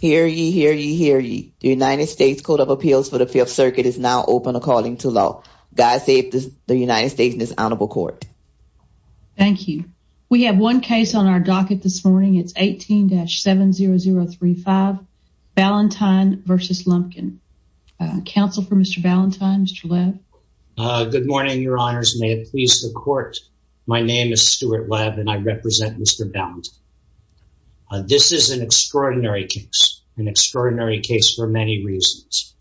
Hear ye, hear ye, hear ye. The United States Court of Appeals for the Fifth Circuit is now open to calling to law. God save the United States in this honorable court. Thank you. We have one case on our docket this morning. It's 18-70035, Valentine v. Lumpkin. Counsel for Mr. Valentine, Mr. Webb. Good morning, your honors. May it please the court. My name is Stuart Webb and I represent Mr. Valentine. This is an extraordinary case, an extraordinary case for many reasons.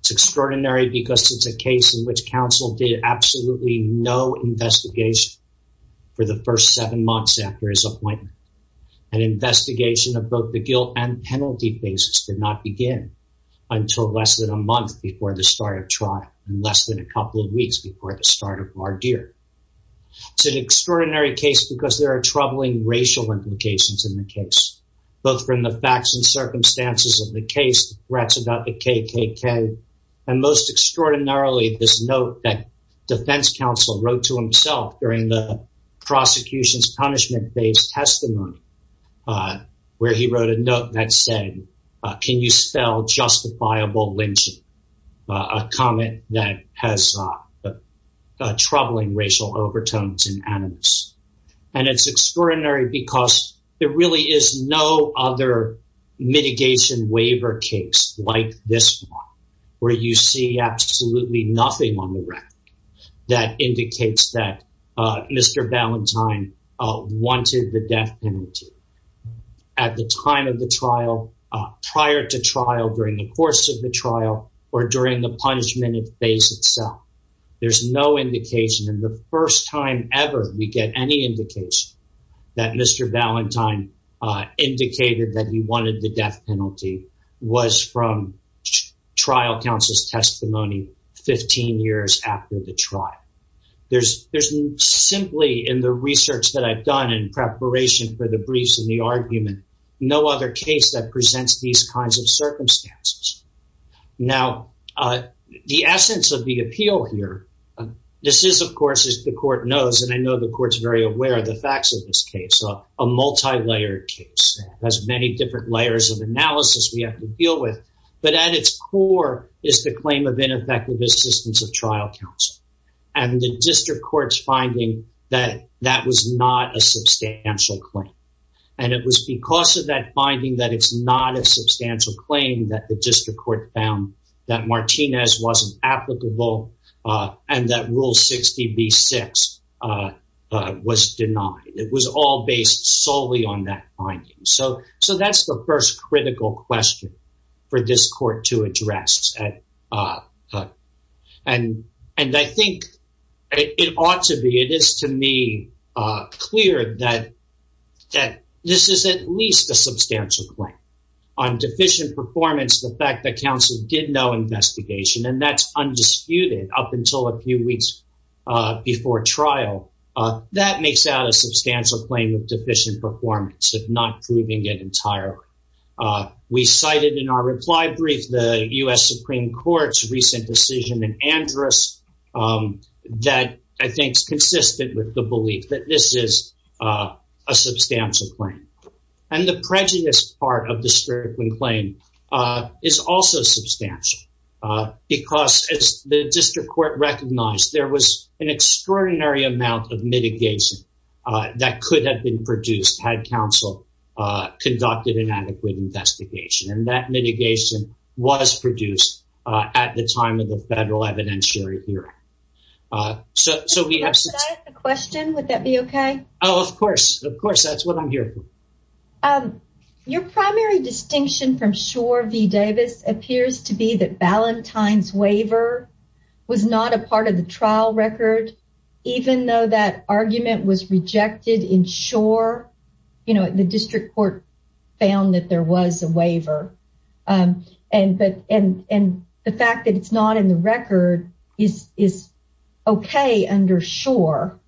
It's extraordinary because it's a case in which counsel did absolutely no investigation for the first seven months after his appointment. An investigation of both the guilt and penalty basis did not begin until less than a month before the start of trial and less than a couple of weeks before the start of our dear. It's an extraordinary case because there are troubling racial implications in the case, both from the facts and circumstances of the case, threats about the KKK, and most extraordinarily, this note that defense counsel wrote to himself during the prosecution's punishment based testimony, where he wrote a note that said, Can you spell justifiable lynching? A comment that has troubling racial overtones and animus. And it's extraordinary because there really is no other mitigation waiver case like this one, where you see absolutely nothing on the record that indicates that Mr. Valentine wanted the death penalty. At the time of the trial, prior to trial, during the course of the trial, or during the punishment phase itself, there's no indication. And the first time ever we get any indication that Mr. Valentine indicated that he wanted the death penalty was from trial counsel's testimony 15 years after the trial. There's simply, in the research that I've done in preparation for the briefs and the argument, no other case that presents these kinds of circumstances. Now, the essence of the appeal here, this is, of course, as the court knows, and I know the court's very aware of the facts of this case, a multilayered case. It has many different layers of analysis we have to deal with. But at its core is the claim of ineffective assistance of trial counsel. And the district court's finding that that was not a substantial claim. And it was because of that finding that it's not a substantial claim that the district court found that Martinez wasn't applicable. And that Rule 60B-6 was denied. It was all based solely on that finding. So that's the first critical question for this court to address. And I think it ought to be, it is to me, clear that this is at least a substantial claim on deficient performance. The fact that counsel did no investigation and that's undisputed up until a few weeks before trial. That makes out a substantial claim of deficient performance of not proving it entirely. We cited in our reply brief the U.S. Supreme Court's recent decision in Andrus that I think is consistent with the belief that this is a substantial claim. And the prejudice part of the Strickland claim is also substantial. Because as the district court recognized, there was an extraordinary amount of mitigation that could have been produced had counsel conducted an adequate investigation. And that mitigation was produced at the time of the federal evidentiary hearing. Should I ask a question? Would that be okay? Oh, of course. Of course. That's what I'm here for. Your primary distinction from Schor v. Davis appears to be that Ballantyne's waiver was not a part of the trial record. Even though that argument was rejected in Schor, you know, the district court found that there was a waiver. And the fact that it's not in the record is okay under Schor.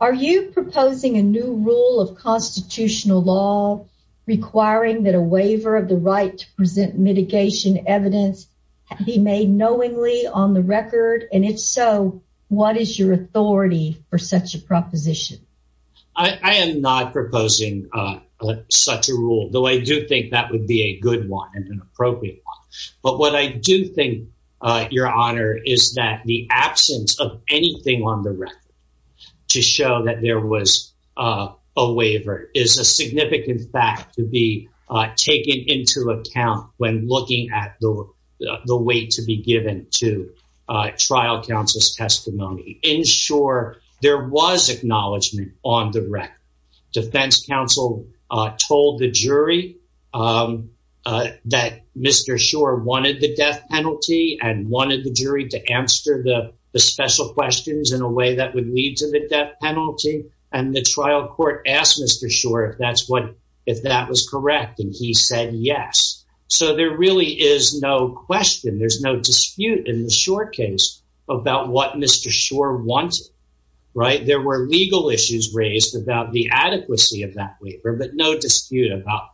Are you proposing a new rule of constitutional law requiring that a waiver of the right to present mitigation evidence be made knowingly on the record? And if so, what is your authority for such a proposition? I am not proposing such a rule, though I do think that would be a good one and an appropriate one. But what I do think, Your Honor, is that the absence of anything on the record to show that there was a waiver is a significant fact to be taken into account when looking at the weight to be given to trial counsel's testimony. In Schor, there was acknowledgement on the record. Defense counsel told the jury that Mr. Schor wanted the death penalty and wanted the jury to answer the special questions in a way that would lead to the death penalty. And the trial court asked Mr. Schor if that was correct, and he said yes. So there really is no question. There's no dispute in the Schor case about what Mr. Schor wants. Right. There were legal issues raised about the adequacy of that waiver, but no dispute about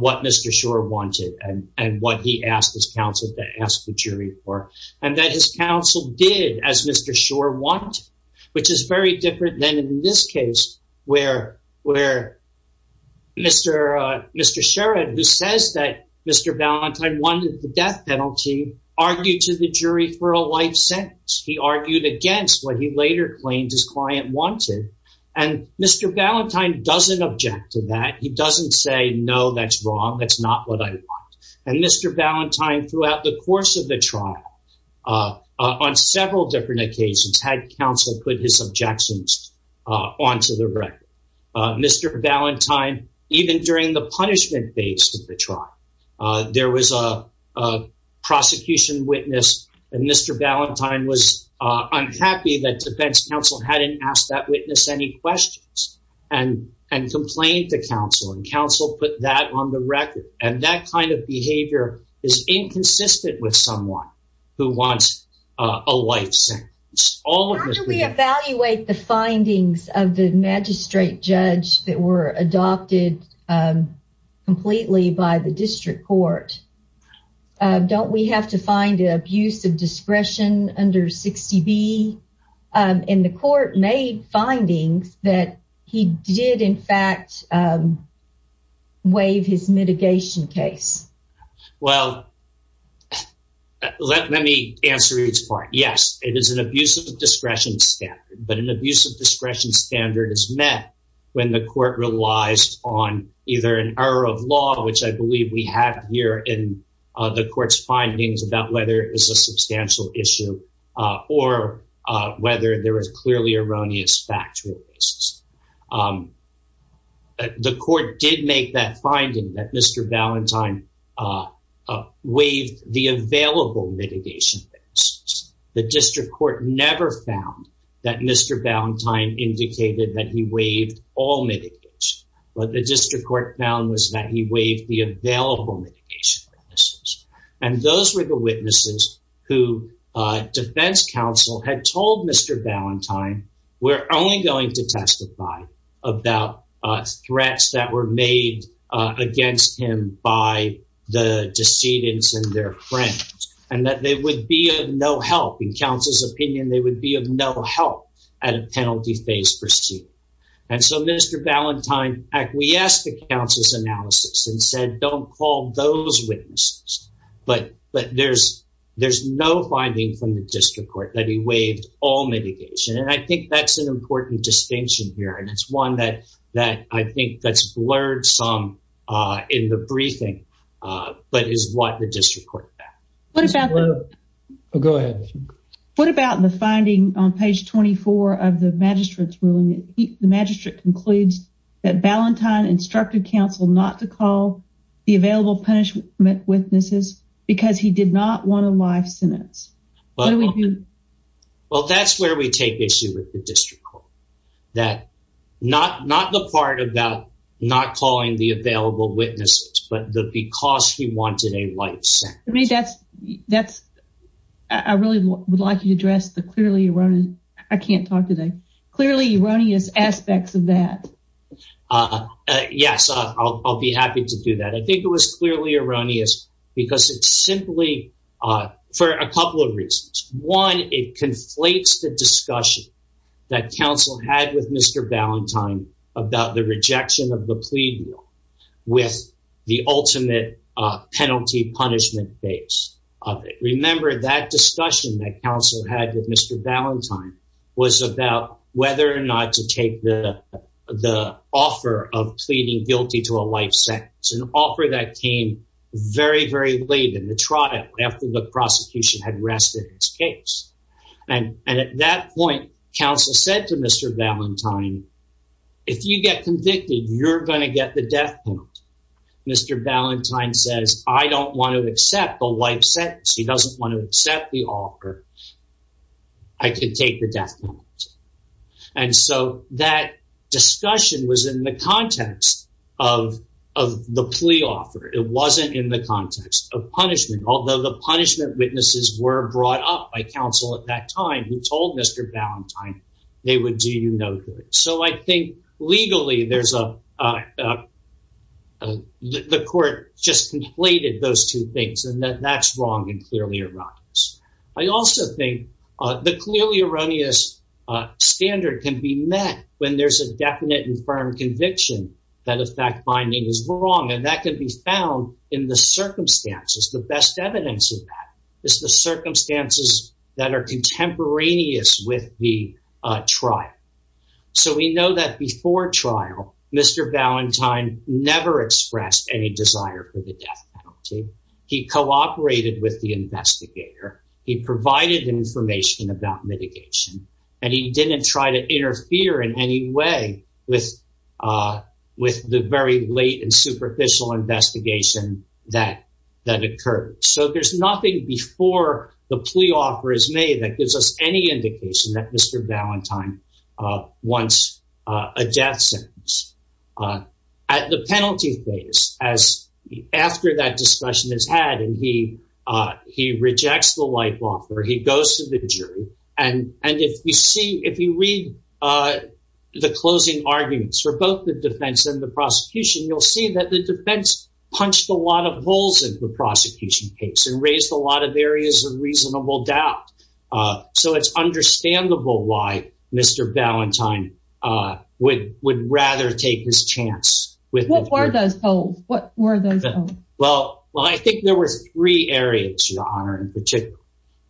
what Mr. Schor wanted and what he asked his counsel to ask the jury for. And that his counsel did, as Mr. Schor wanted, which is very different than in this case where Mr. Sherrod, who says that Mr. Valentine wanted the death penalty, argued to the jury for a life sentence. He argued against what he later claimed his client wanted. And Mr. Valentine doesn't object to that. He doesn't say, no, that's wrong. That's not what I want. And Mr. Valentine, throughout the course of the trial, on several different occasions, had counsel put his objections onto the record. Mr. Valentine, even during the punishment phase of the trial, there was a prosecution witness, and Mr. Valentine was unhappy that defense counsel hadn't asked that witness any questions and complained to counsel. And counsel put that on the record. And that kind of behavior is inconsistent with someone who wants a life sentence. How do we evaluate the findings of the magistrate judge that were adopted completely by the district court? Don't we have to find an abuse of discretion under 60B? And the court made findings that he did, in fact, waive his mitigation case. Well, let me answer each part. Yes, it is an abuse of discretion standard. But an abuse of discretion standard is met when the court relies on either an error of law, which I believe we have here in the court's findings about whether it is a substantial issue or whether there is clearly erroneous factual basis. The court did make that finding that Mr. Valentine waived the available mitigation cases. The district court never found that Mr. Valentine indicated that he waived all mitigation. But the district court found was that he waived the available mitigation cases. And those were the witnesses who defense counsel had told Mr. Valentine, we're only going to testify about threats that were made against him by the decedents and their friends. And that they would be of no help. In counsel's opinion, they would be of no help at a penalty phase proceeding. And so Mr. Valentine acquiesced to counsel's analysis and said, don't call those witnesses. But there's no finding from the district court that he waived all mitigation. And I think that's an important distinction here. And it's one that I think that's blurred some in the briefing, but is what the district court found. Go ahead. What about the finding on page 24 of the magistrate's ruling? The magistrate concludes that Valentine instructed counsel not to call the available punishment witnesses because he did not want a life sentence. Well, that's where we take issue with the district court. That not the part about not calling the available witnesses, but because he wanted a life sentence. I really would like you to address the clearly erroneous, I can't talk today, clearly erroneous aspects of that. Yes, I'll be happy to do that. I think it was clearly erroneous because it's simply for a couple of reasons. One, it conflates the discussion that counsel had with Mr. Valentine about the rejection of the plea with the ultimate penalty punishment base of it. Remember that discussion that counsel had with Mr. Valentine was about whether or not to take the offer of pleading guilty to a life sentence. An offer that came very, very late in the trial after the prosecution had rested its case. And at that point, counsel said to Mr. Valentine, if you get convicted, you're going to get the death penalty. Mr. Valentine says, I don't want to accept the life sentence. He doesn't want to accept the offer. I can take the death penalty. And so that discussion was in the context of the plea offer. It wasn't in the context of punishment. Although the punishment witnesses were brought up by counsel at that time who told Mr. Valentine they would do you no good. So I think legally there's a, the court just conflated those two things and that that's wrong and clearly erroneous. I also think the clearly erroneous standard can be met when there's a definite and firm conviction that a fact finding is wrong. And that can be found in the circumstances. The best evidence of that is the circumstances that are contemporaneous with the trial. So we know that before trial, Mr. Valentine never expressed any desire for the death penalty. He cooperated with the investigator. He provided information about mitigation and he didn't try to interfere in any way with with the very late and superficial investigation that that occurred. So there's nothing before the plea offer is made that gives us any indication that Mr. At the penalty phase, as after that discussion is had and he he rejects the life offer, he goes to the jury. And and if you see if you read the closing arguments for both the defense and the prosecution, you'll see that the defense punched a lot of holes in the prosecution case and raised a lot of areas of reasonable doubt. So it's understandable why Mr. Valentine would would rather take his chance with. What were those holes? What were those? Well, well, I think there were three areas, Your Honor, in particular.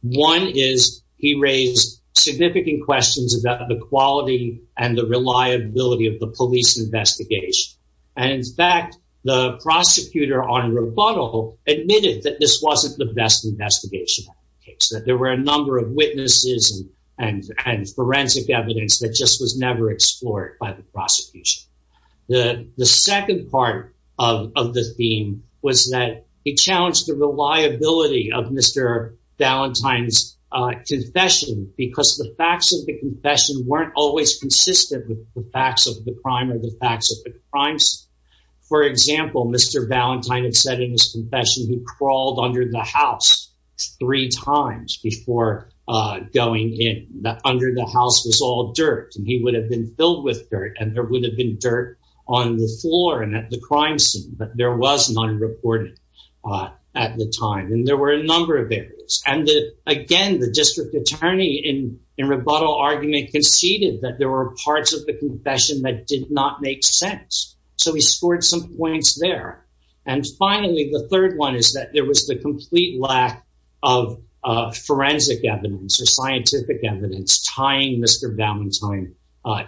One is he raised significant questions about the quality and the reliability of the police investigation. And in fact, the prosecutor on rebuttal admitted that this wasn't the best investigation case, that there were a number of witnesses and forensic evidence that just was never explored by the prosecution. The second part of the theme was that it challenged the reliability of Mr. Valentine's confession because the facts of the confession weren't always consistent with the facts of the crime or the facts of the crimes. For example, Mr. Valentine had said in his confession he crawled under the house three times before going in that under the house was all dirt. He would have been filled with dirt and there would have been dirt on the floor and at the crime scene. But there was none reported at the time. And there were a number of areas. And again, the district attorney in a rebuttal argument conceded that there were parts of the confession that did not make sense. So he scored some points there. And finally, the third one is that there was the complete lack of forensic evidence or scientific evidence tying Mr. Valentine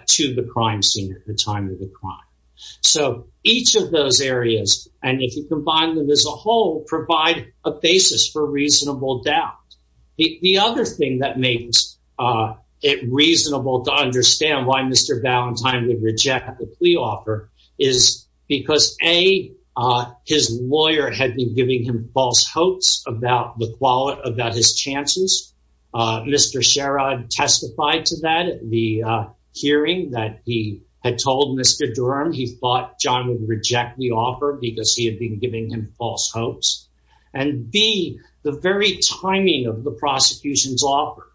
to the crime scene at the time of the crime. So each of those areas. And if you combine them as a whole, provide a basis for reasonable doubt. The other thing that makes it reasonable to understand why Mr. Valentine would reject the plea offer is because a his lawyer had been giving him false hopes about the quality of his chances. Mr. Sherrod testified to that. The hearing that he had told Mr. Durham, he thought John would reject the offer because he had been giving him false hopes. And be the very timing of the prosecution's offer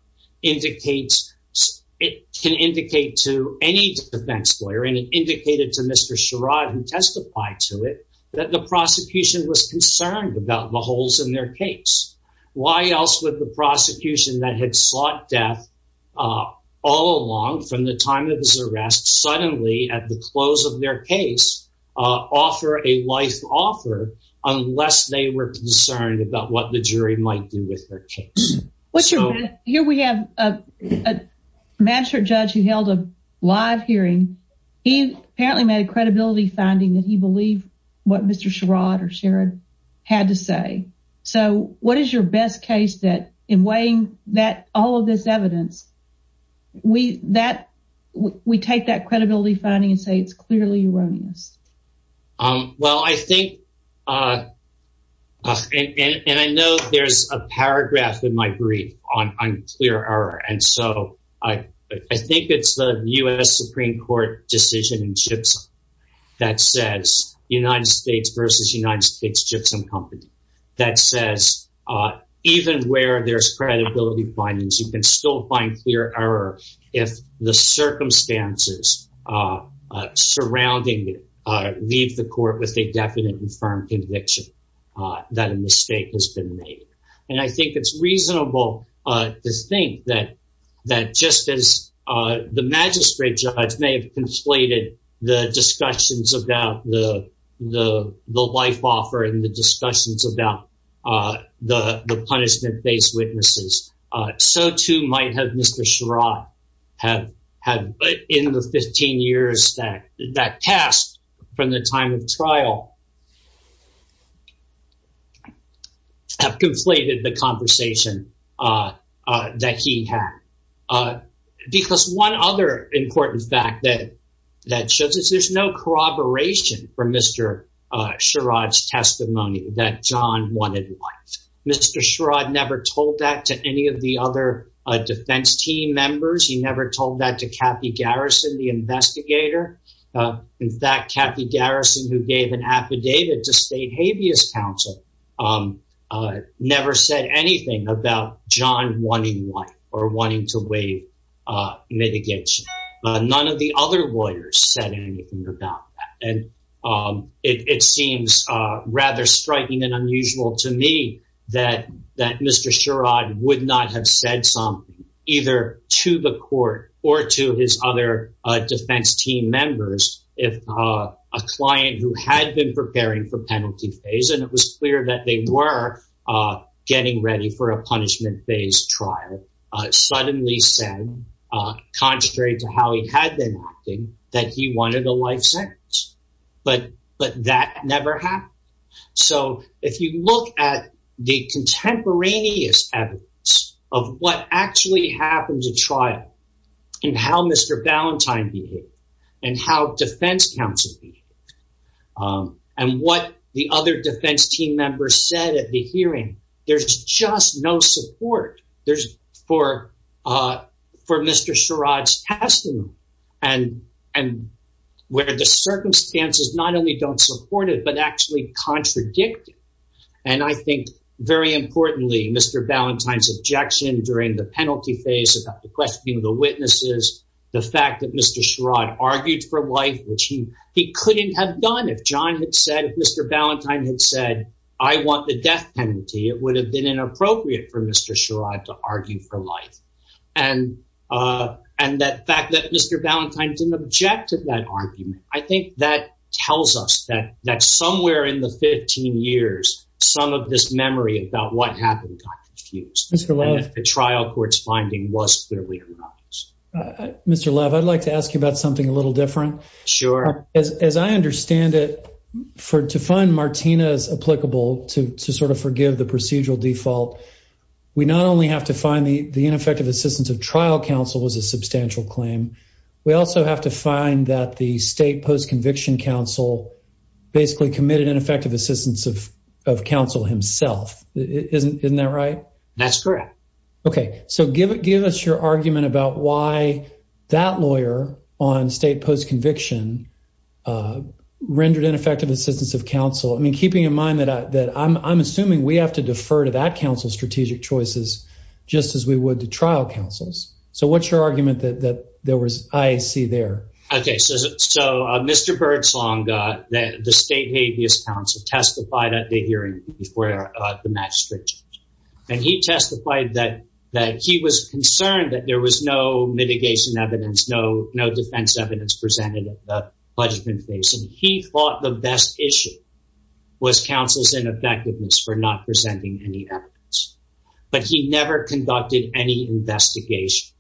indicates it can indicate to any defense lawyer. And it indicated to Mr. Sherrod who testified to it that the prosecution was concerned about the holes in their case. Why else would the prosecution that had sought death all along from the time of his arrest suddenly at the close of their case offer a life offer unless they were concerned about what the jury might do with their case? What's your here? We have a master judge who held a live hearing. He apparently made a credibility finding that he believed what Mr. Sherrod or Sherrod had to say. So what is your best case that in weighing that all of this evidence we that we take that credibility finding and say it's clearly erroneous? Well, I think and I know there's a paragraph in my brief on clear error. And so I think it's the U.S. Supreme Court decision in chips that says United States versus United States chips and company that says even where there's credibility findings, you can still find clear error if the circumstances surrounding leave the court with a definite and firm conviction that a mistake has been made. And I think it's reasonable to think that that just as the magistrate judge may have conflated the discussions about the the the life offer and the discussions about the punishment based witnesses. So too might have Mr. Sherrod have had in the 15 years that that passed from the time of trial have conflated the conversation that he had, because one other important fact that that shows us there's no corroboration for Mr. Sherrod's testimony that John wanted. Mr. Sherrod never told that to any of the other defense team members. He never told that to Kathy Garrison, the investigator. In fact, Kathy Garrison, who gave an affidavit to state habeas counsel, never said anything about John wanting life or wanting to waive mitigation. None of the other lawyers said anything about that. And it seems rather striking and unusual to me that that Mr. Sherrod would not have said some either to the court or to his other defense team members. A client who had been preparing for penalty phase, and it was clear that they were getting ready for a punishment based trial, suddenly said, contrary to how he had been acting, that he wanted a life sentence. But but that never happened. So if you look at the contemporaneous evidence of what actually happened to trial and how Mr. Valentine behaved and how defense counsel and what the other defense team members said at the hearing, there's just no support. There's for for Mr. Sherrod's testimony and and where the circumstances not only don't support it, but actually contradict. And I think very importantly, Mr. During the penalty phase of the questioning of the witnesses, the fact that Mr. Sherrod argued for life, which he he couldn't have done if John had said Mr. Valentine had said, I want the death penalty. It would have been inappropriate for Mr. Sherrod to argue for life. And and that fact that Mr. Valentine didn't object to that argument. I think that tells us that that's somewhere in the 15 years. Some of this memory about what happened is the trial court's finding was Mr. Love. I'd like to ask you about something a little different. Sure. As I understand it, for to find Martinez applicable to to sort of forgive the procedural default, we not only have to find the ineffective assistance of trial counsel was a substantial claim. We also have to find that the state post conviction counsel basically committed ineffective assistance of of counsel himself. Isn't isn't that right? That's correct. OK, so give it give us your argument about why that lawyer on state post conviction rendered ineffective assistance of counsel. I mean, keeping in mind that that I'm assuming we have to defer to that council strategic choices just as we would to trial councils. So what's your argument that that there was I see there? OK, so so Mr. Birdsong, the state habeas counsel testified at the hearing before the match. And he testified that that he was concerned that there was no mitigation evidence, no, no defense evidence presented at the budget. And he thought the best issue was counsel's ineffectiveness for not presenting any evidence. But he never conducted any investigation.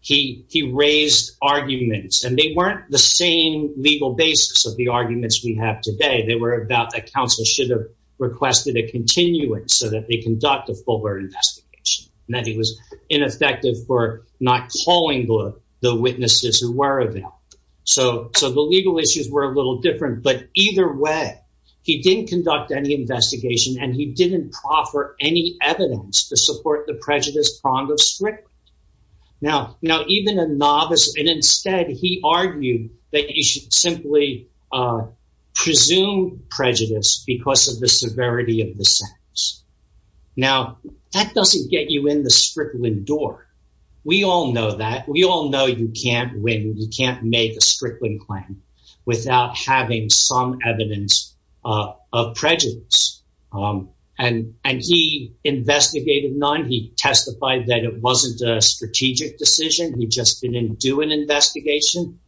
He he raised arguments and they weren't the same legal basis of the arguments we have today. They were about that counsel should have requested a continuing so that they conduct a fuller investigation and that he was ineffective for not calling the witnesses who were available. So so the legal issues were a little different. But either way, he didn't conduct any investigation and he didn't proffer any evidence to support the prejudice prong of Strickland. Now, now, even a novice. And instead, he argued that you should simply presume prejudice because of the severity of the sentence. Now, that doesn't get you in the Strickland door. We all know that we all know you can't win. You can't make a Strickland claim without having some evidence of prejudice. And and he investigated none. He testified that it wasn't a strategic decision. He just didn't do an investigation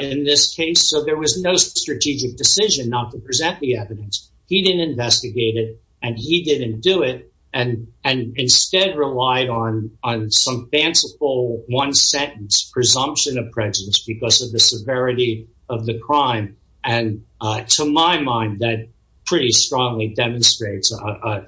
in this case. So there was no strategic decision not to present the evidence. He didn't investigate it and he didn't do it. And and instead relied on on some fanciful one sentence presumption of prejudice because of the severity of the crime. And to my mind, that pretty strongly demonstrates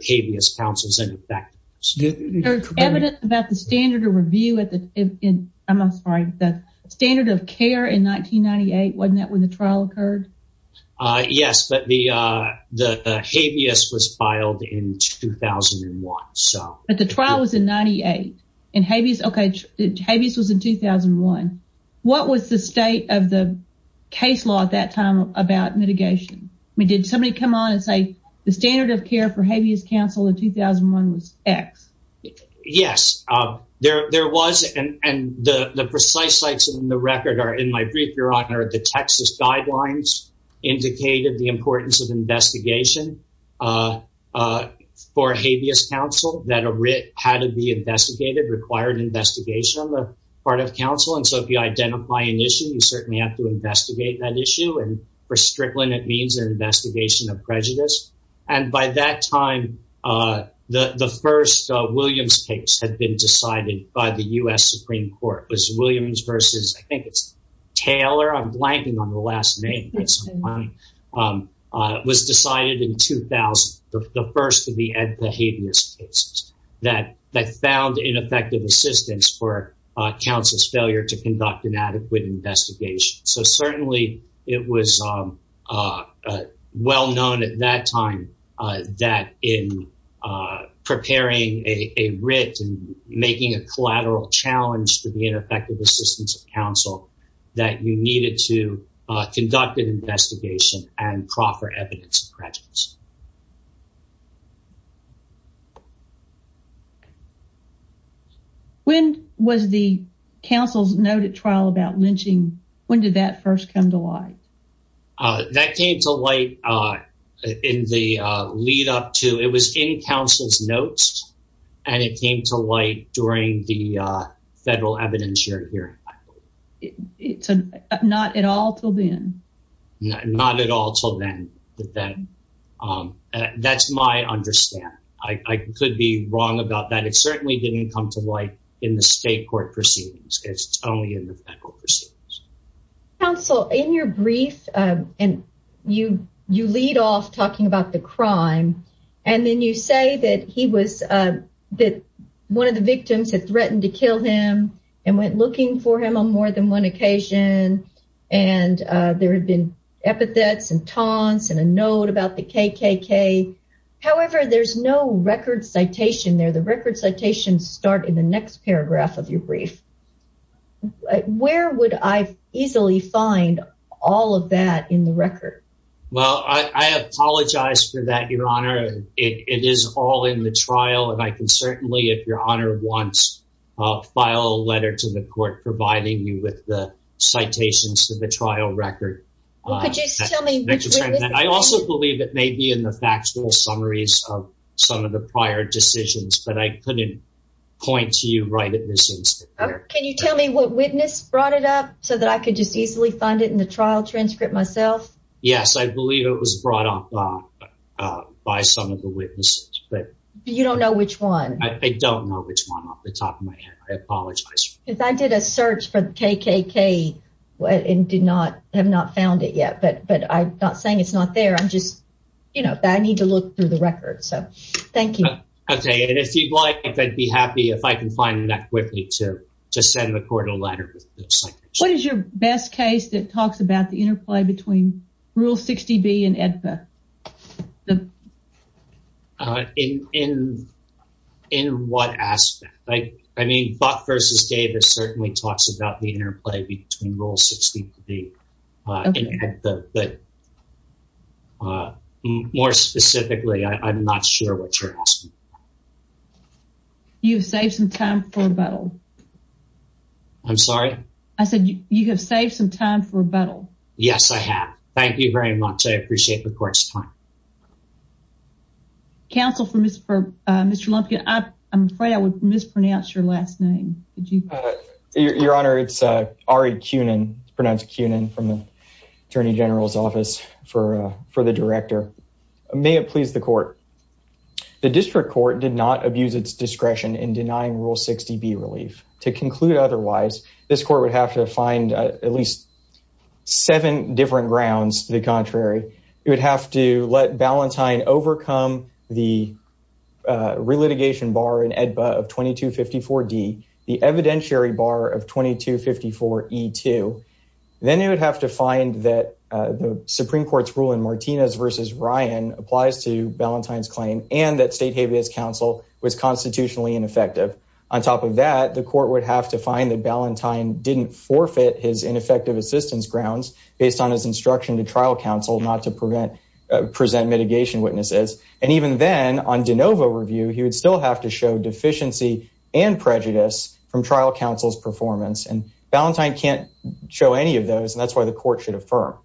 habeas counsels. And in fact, there's evidence about the standard of review at the end. I'm afraid that standard of care in 1998 wasn't that when the trial occurred? Yes. But the the habeas was filed in 2001. So the trial was in 98 and habeas. OK. Habeas was in 2001. What was the state of the case law at that time about mitigation? I mean, did somebody come on and say the standard of care for habeas counsel in 2001 was X? Yes, there there was. And the precise sites in the record are in my brief. Your Honor, the Texas guidelines indicated the importance of investigation for habeas counsel that a writ had to be investigated, required investigation on the part of counsel. And so if you identify an issue, you certainly have to investigate that issue. And for Strickland, it means an investigation of prejudice. And by that time, the first Williams case had been decided by the U.S. Supreme Court. It was Williams versus I think it's Taylor. I'm blanking on the last name. It was decided in 2000, the first of the Habeas cases that that found ineffective assistance for counsel's failure to conduct an adequate investigation. So certainly it was well known at that time that in preparing a writ and making a collateral challenge to the ineffective assistance of counsel, that you needed to conduct an investigation and proffer evidence of prejudice. When was the counsel's noted trial about lynching? When did that first come to light? That came to light in the lead up to it was in counsel's notes and it came to light during the federal evidence hearing. It's not at all till then. Not at all till then. That's my understanding. I could be wrong about that. It certainly didn't come to light in the state court proceedings. It's only in the federal proceedings. Counsel, in your brief and you you lead off talking about the crime. And then you say that he was that one of the victims had threatened to kill him and went looking for him on more than one occasion. And there had been epithets and taunts and a note about the KKK. However, there's no record citation there. The record citations start in the next paragraph of your brief. Where would I easily find all of that in the record? Well, I apologize for that, Your Honor. It is all in the trial. And I can certainly, if Your Honor wants, file a letter to the court providing you with the citations to the trial record. I also believe it may be in the factual summaries of some of the prior decisions, but I couldn't point to you right at this instance. Can you tell me what witness brought it up so that I could just easily find it in the trial transcript myself? Yes, I believe it was brought up by some of the witnesses, but you don't know which one. I don't know which one off the top of my head. I apologize. If I did a search for KKK and did not have not found it yet. But but I'm not saying it's not there. I'm just you know, I need to look through the record. So thank you. OK. And if you'd like, I'd be happy if I can find that quickly to to send the court a letter. What is your best case that talks about the interplay between Rule 60B and AEDPA? In what aspect? I mean, Buck versus Davis certainly talks about the interplay between Rule 60B and AEDPA. But more specifically, I'm not sure what you're asking. You've saved some time for rebuttal. I'm sorry. I said you have saved some time for rebuttal. Yes, I have. Thank you very much. I appreciate the court's time. Counsel for Mr. Lumpkin, I'm afraid I would mispronounce your last name. Your Honor, it's Ari Kunin, pronounced Kunin from the Attorney General's office for the director. May it please the court. The district court did not abuse its discretion in denying Rule 60B relief. To conclude otherwise, this court would have to find at least seven different grounds to the contrary. It would have to let Ballantyne overcome the relitigation bar in AEDPA of 2254D, the evidentiary bar of 2254E2. Then it would have to find that the Supreme Court's rule in Martinez versus Ryan applies to Ballantyne's claim and that state habeas counsel was constitutionally ineffective. On top of that, the court would have to find that Ballantyne didn't forfeit his ineffective assistance grounds based on his instruction to trial counsel not to present mitigation witnesses. And even then, on de novo review, he would still have to show deficiency and prejudice from trial counsel's performance. And Ballantyne can't show any of those, and that's why the court should affirm.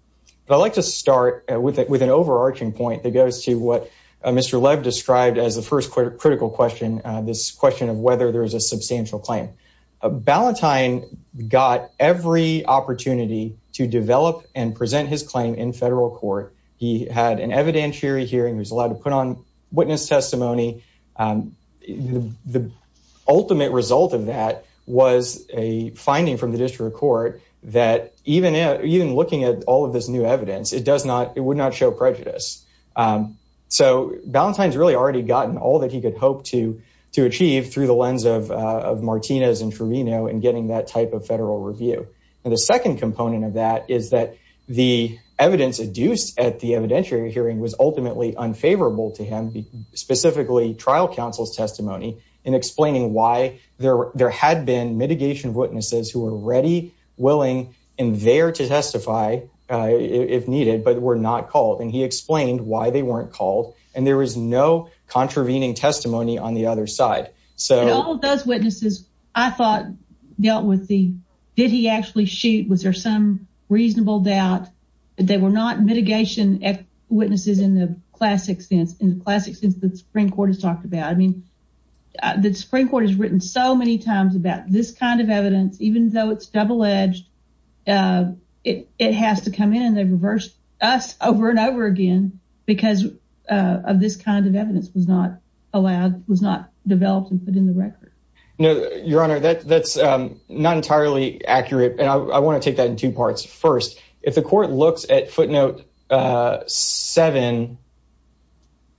But I'd like to start with an overarching point that goes to what Mr. Lev described as the first critical question, this question of whether there is a substantial claim. Ballantyne got every opportunity to develop and present his claim in federal court. He had an evidentiary hearing. He was allowed to put on witness testimony. The ultimate result of that was a finding from the district court that even looking at all of this new evidence, it would not show prejudice. So Ballantyne's really already gotten all that he could hope to achieve through the lens of Martinez and Truvino and getting that type of federal review. And the second component of that is that the evidence adduced at the evidentiary hearing was ultimately unfavorable to him, specifically trial counsel's testimony in explaining why there had been mitigation witnesses who were ready, willing, and there to testify if needed, but were not called. And he explained why they weren't called. And there was no contravening testimony on the other side. And all of those witnesses, I thought, dealt with the, did he actually shoot? Was there some reasonable doubt? They were not mitigation witnesses in the classic sense, in the classic sense that the Supreme Court has talked about. I mean, the Supreme Court has written so many times about this kind of evidence, even though it's double-edged, it has to come in and they've reversed us over and over again because of this kind of evidence was not allowed, was not developed and put in the record. No, Your Honor, that's not entirely accurate. And I want to take that in two parts. First, if the court looks at footnote seven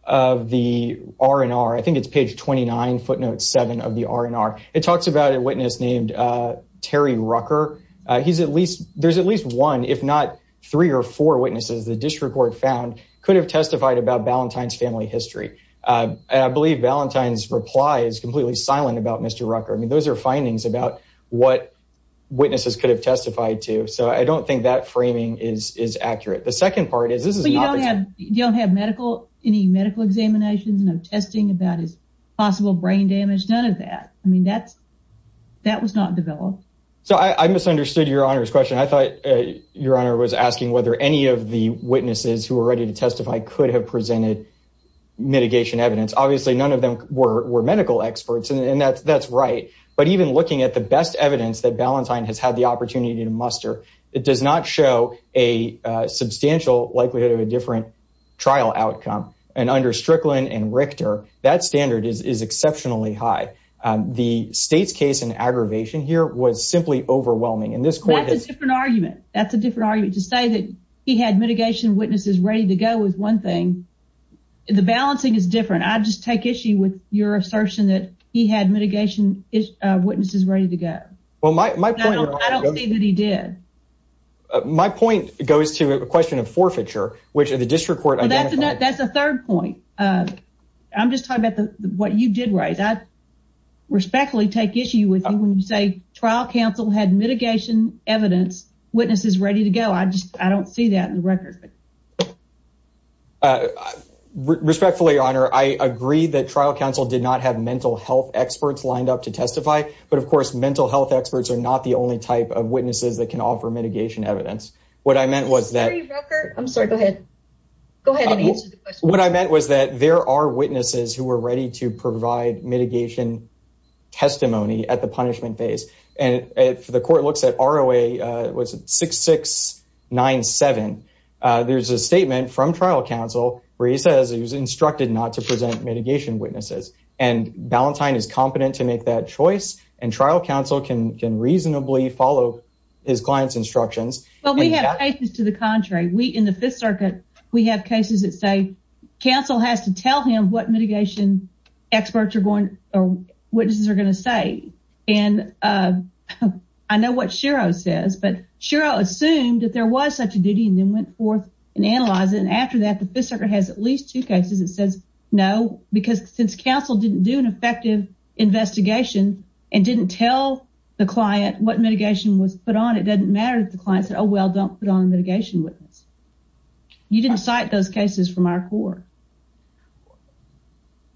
of the R&R, I think it's page 29, footnote seven of the R&R, it talks about a witness named Terry Rucker. He's at least, there's at least one, if not three or four witnesses, the district court found could have testified about Valentine's family history. And I believe Valentine's reply is completely silent about Mr. Rucker. I mean, those are findings about what witnesses could have testified to. So I don't think that framing is accurate. The second part is this is not. You don't have medical, any medical examinations, no testing about his possible brain damage, none of that. I mean, that's, that was not developed. So I misunderstood Your Honor's question. I thought Your Honor was asking whether any of the witnesses who were ready to testify could have presented mitigation evidence. Obviously, none of them were medical experts and that's right. But even looking at the best evidence that Valentine has had the opportunity to muster, it does not show a substantial likelihood of a different trial outcome. And under Strickland and Richter, that standard is exceptionally high. The state's case in aggravation here was simply overwhelming. That's a different argument. That's a different argument. To say that he had mitigation witnesses ready to go is one thing. The balancing is different. I just take issue with your assertion that he had mitigation witnesses ready to go. I don't see that he did. My point goes to a question of forfeiture, which the district court identified. That's a third point. I'm just talking about what you did raise. I respectfully take issue with you when you say trial counsel had mitigation evidence, witnesses ready to go. I just, I don't see that in the record. Respectfully, Your Honor, I agree that trial counsel did not have mental health experts lined up to testify. But, of course, mental health experts are not the only type of witnesses that can offer mitigation evidence. What I meant was that. I'm sorry. Go ahead. Go ahead and answer the question. What I meant was that there are witnesses who were ready to provide mitigation testimony at the punishment phase. The court looks at ROA 6697. There's a statement from trial counsel where he says he was instructed not to present mitigation witnesses. And Ballantyne is competent to make that choice. And trial counsel can reasonably follow his client's instructions. Well, we have cases to the contrary. We, in the Fifth Circuit, we have cases that say counsel has to tell him what mitigation experts or witnesses are going to say. And I know what Shiro says, but Shiro assumed that there was such a duty and then went forth and analyzed it. And after that, the Fifth Circuit has at least two cases that says no. Because since counsel didn't do an effective investigation and didn't tell the client what mitigation was put on, it doesn't matter if the client said, oh, well, don't put on mitigation witness. You didn't cite those cases from our court.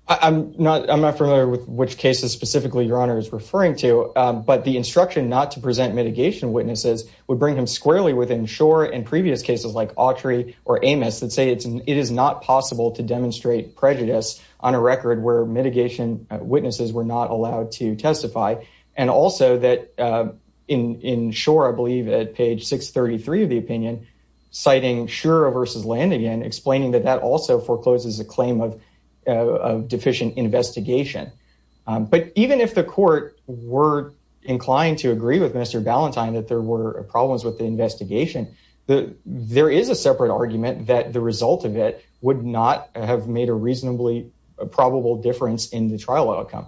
I'm not I'm not familiar with which cases specifically your honor is referring to. But the instruction not to present mitigation witnesses would bring him squarely within shore and previous cases like Autry or Amos that say it's it is not possible to demonstrate prejudice on a record where mitigation witnesses were not allowed to testify. And also that in shore, I believe, at page 633 of the opinion, citing Shiro versus Landigan, explaining that that also forecloses a claim of deficient investigation. But even if the court were inclined to agree with Mr. Ballantyne that there were problems with the investigation, there is a separate argument that the result of it would not have made a reasonably probable difference in the trial outcome.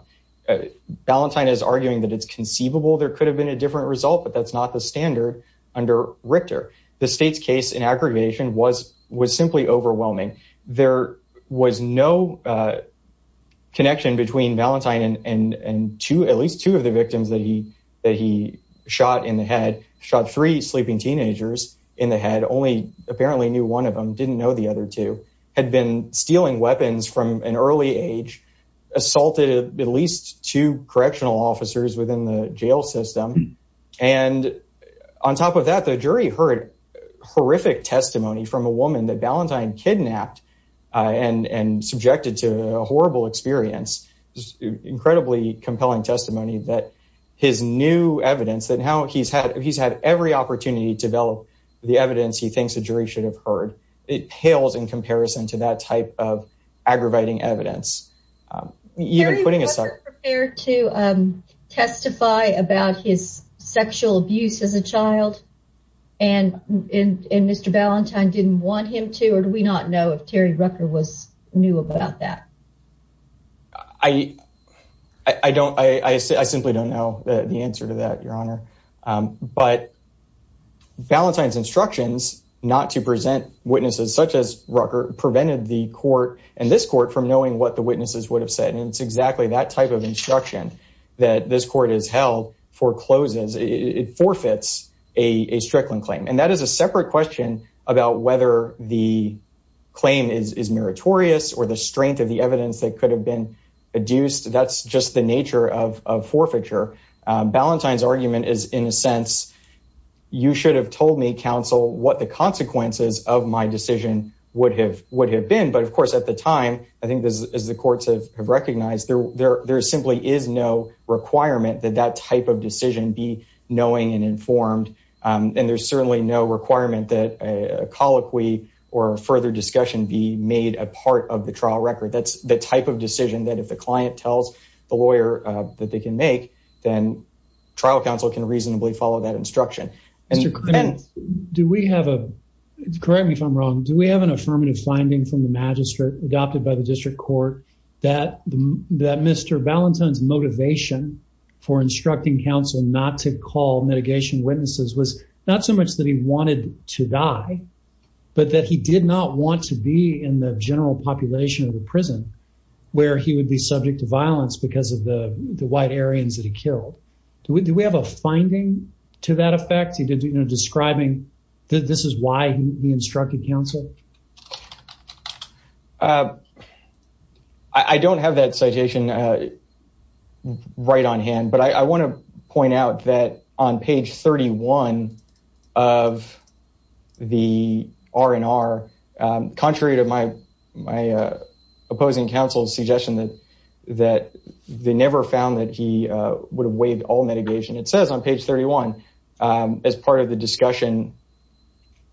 Ballantyne is arguing that it's conceivable there could have been a different result, but that's not the standard under Richter. The state's case in aggregation was was simply overwhelming. There was no connection between Ballantyne and two, at least two of the victims that he that he shot in the head, shot three sleeping teenagers in the head. Only apparently knew one of them didn't know the other two had been stealing weapons from an early age, assaulted at least two correctional officers within the jail system. And on top of that, the jury heard horrific testimony from a woman that Ballantyne kidnapped and subjected to a horrible experience. Incredibly compelling testimony that his new evidence that how he's had, he's had every opportunity to develop the evidence he thinks the jury should have heard. It pales in comparison to that type of aggravating evidence. You're putting us up there to testify about his sexual abuse as a child. And in Mr. Ballantyne didn't want him to or do we not know if Terry Rucker was new about that? I don't I simply don't know the answer to that, Your Honor. But Ballantyne's instructions not to present witnesses such as Rucker prevented the court and this court from knowing what the witnesses would have said. And it's exactly that type of instruction that this court has held forecloses it forfeits a Strickland claim. And that is a separate question about whether the claim is meritorious or the strength of the evidence that could have been adduced. That's just the nature of forfeiture. Ballantyne's argument is, in a sense, you should have told me, counsel, what the consequences of my decision would have would have been. But, of course, at the time, I think, as the courts have recognized, there simply is no requirement that that type of decision be knowing and informed. And there's certainly no requirement that a colloquy or further discussion be made a part of the trial record. That's the type of decision that if the client tells the lawyer that they can make, then trial counsel can reasonably follow that instruction. Correct me if I'm wrong. Do we have an affirmative finding from the magistrate adopted by the district court that Mr. Ballantyne's motivation for instructing counsel not to call mitigation witnesses was not so much that he wanted to die, but that he did not want to be in the general population of the prison where he would be subject to violence because of the white Aryans that he killed? Do we have a finding to that effect? He did, you know, describing that this is why he instructed counsel? I don't have that citation right on hand, but I want to point out that on page 31 of the R&R, contrary to my opposing counsel's suggestion that they never found that he would have waived all mitigation, it says on page 31 as part of the discussion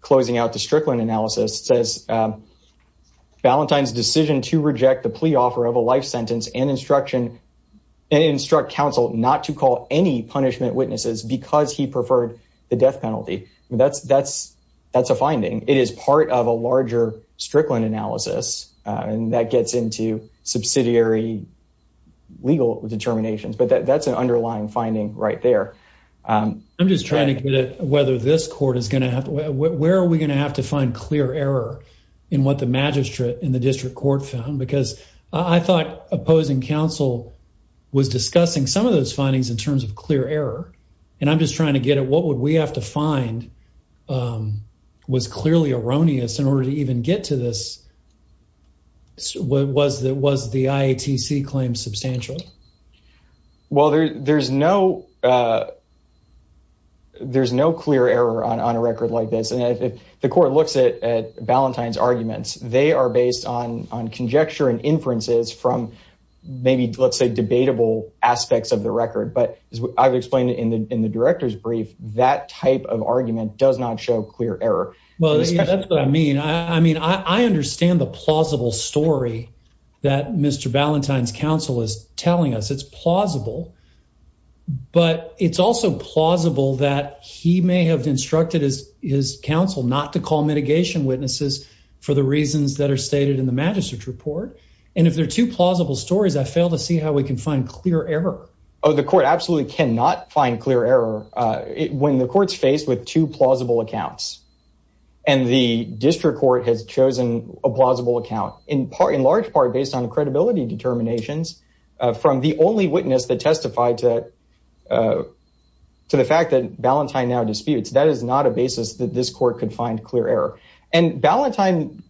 closing out the Strickland analysis, it says Ballantyne's decision to reject the plea offer of a life sentence and instruct counsel not to call any punishment witnesses because he preferred the death penalty. That's a finding. It is part of a larger Strickland analysis, and that gets into subsidiary legal determinations, but that's an underlying finding right there. I'm just trying to get at whether this court is going to have to, where are we going to have to find clear error in what the magistrate in the district court found? Because I thought opposing counsel was discussing some of those findings in terms of clear error, and I'm just trying to get at what would we have to find was clearly erroneous in order to even get to this. Was the IATC claim substantial? Well, there's no clear error on a record like this, and if the court looks at Ballantyne's arguments, they are based on conjecture and inferences from maybe, let's say, debatable aspects of the record. But as I've explained in the director's brief, that type of argument does not show clear error. Well, that's what I mean. I mean, I understand the plausible story that Mr. Ballantyne's counsel is telling us. It's plausible, but it's also plausible that he may have instructed his counsel not to call mitigation witnesses for the reasons that are stated in the magistrate's report. And if there are two plausible stories, I fail to see how we can find clear error. Oh, the court absolutely cannot find clear error. When the court's faced with two plausible accounts, and the district court has chosen a plausible account, in large part based on credibility determinations from the only witness that testified to the fact that Ballantyne now disputes, that is not a basis that this court could find clear error. And Ballantyne,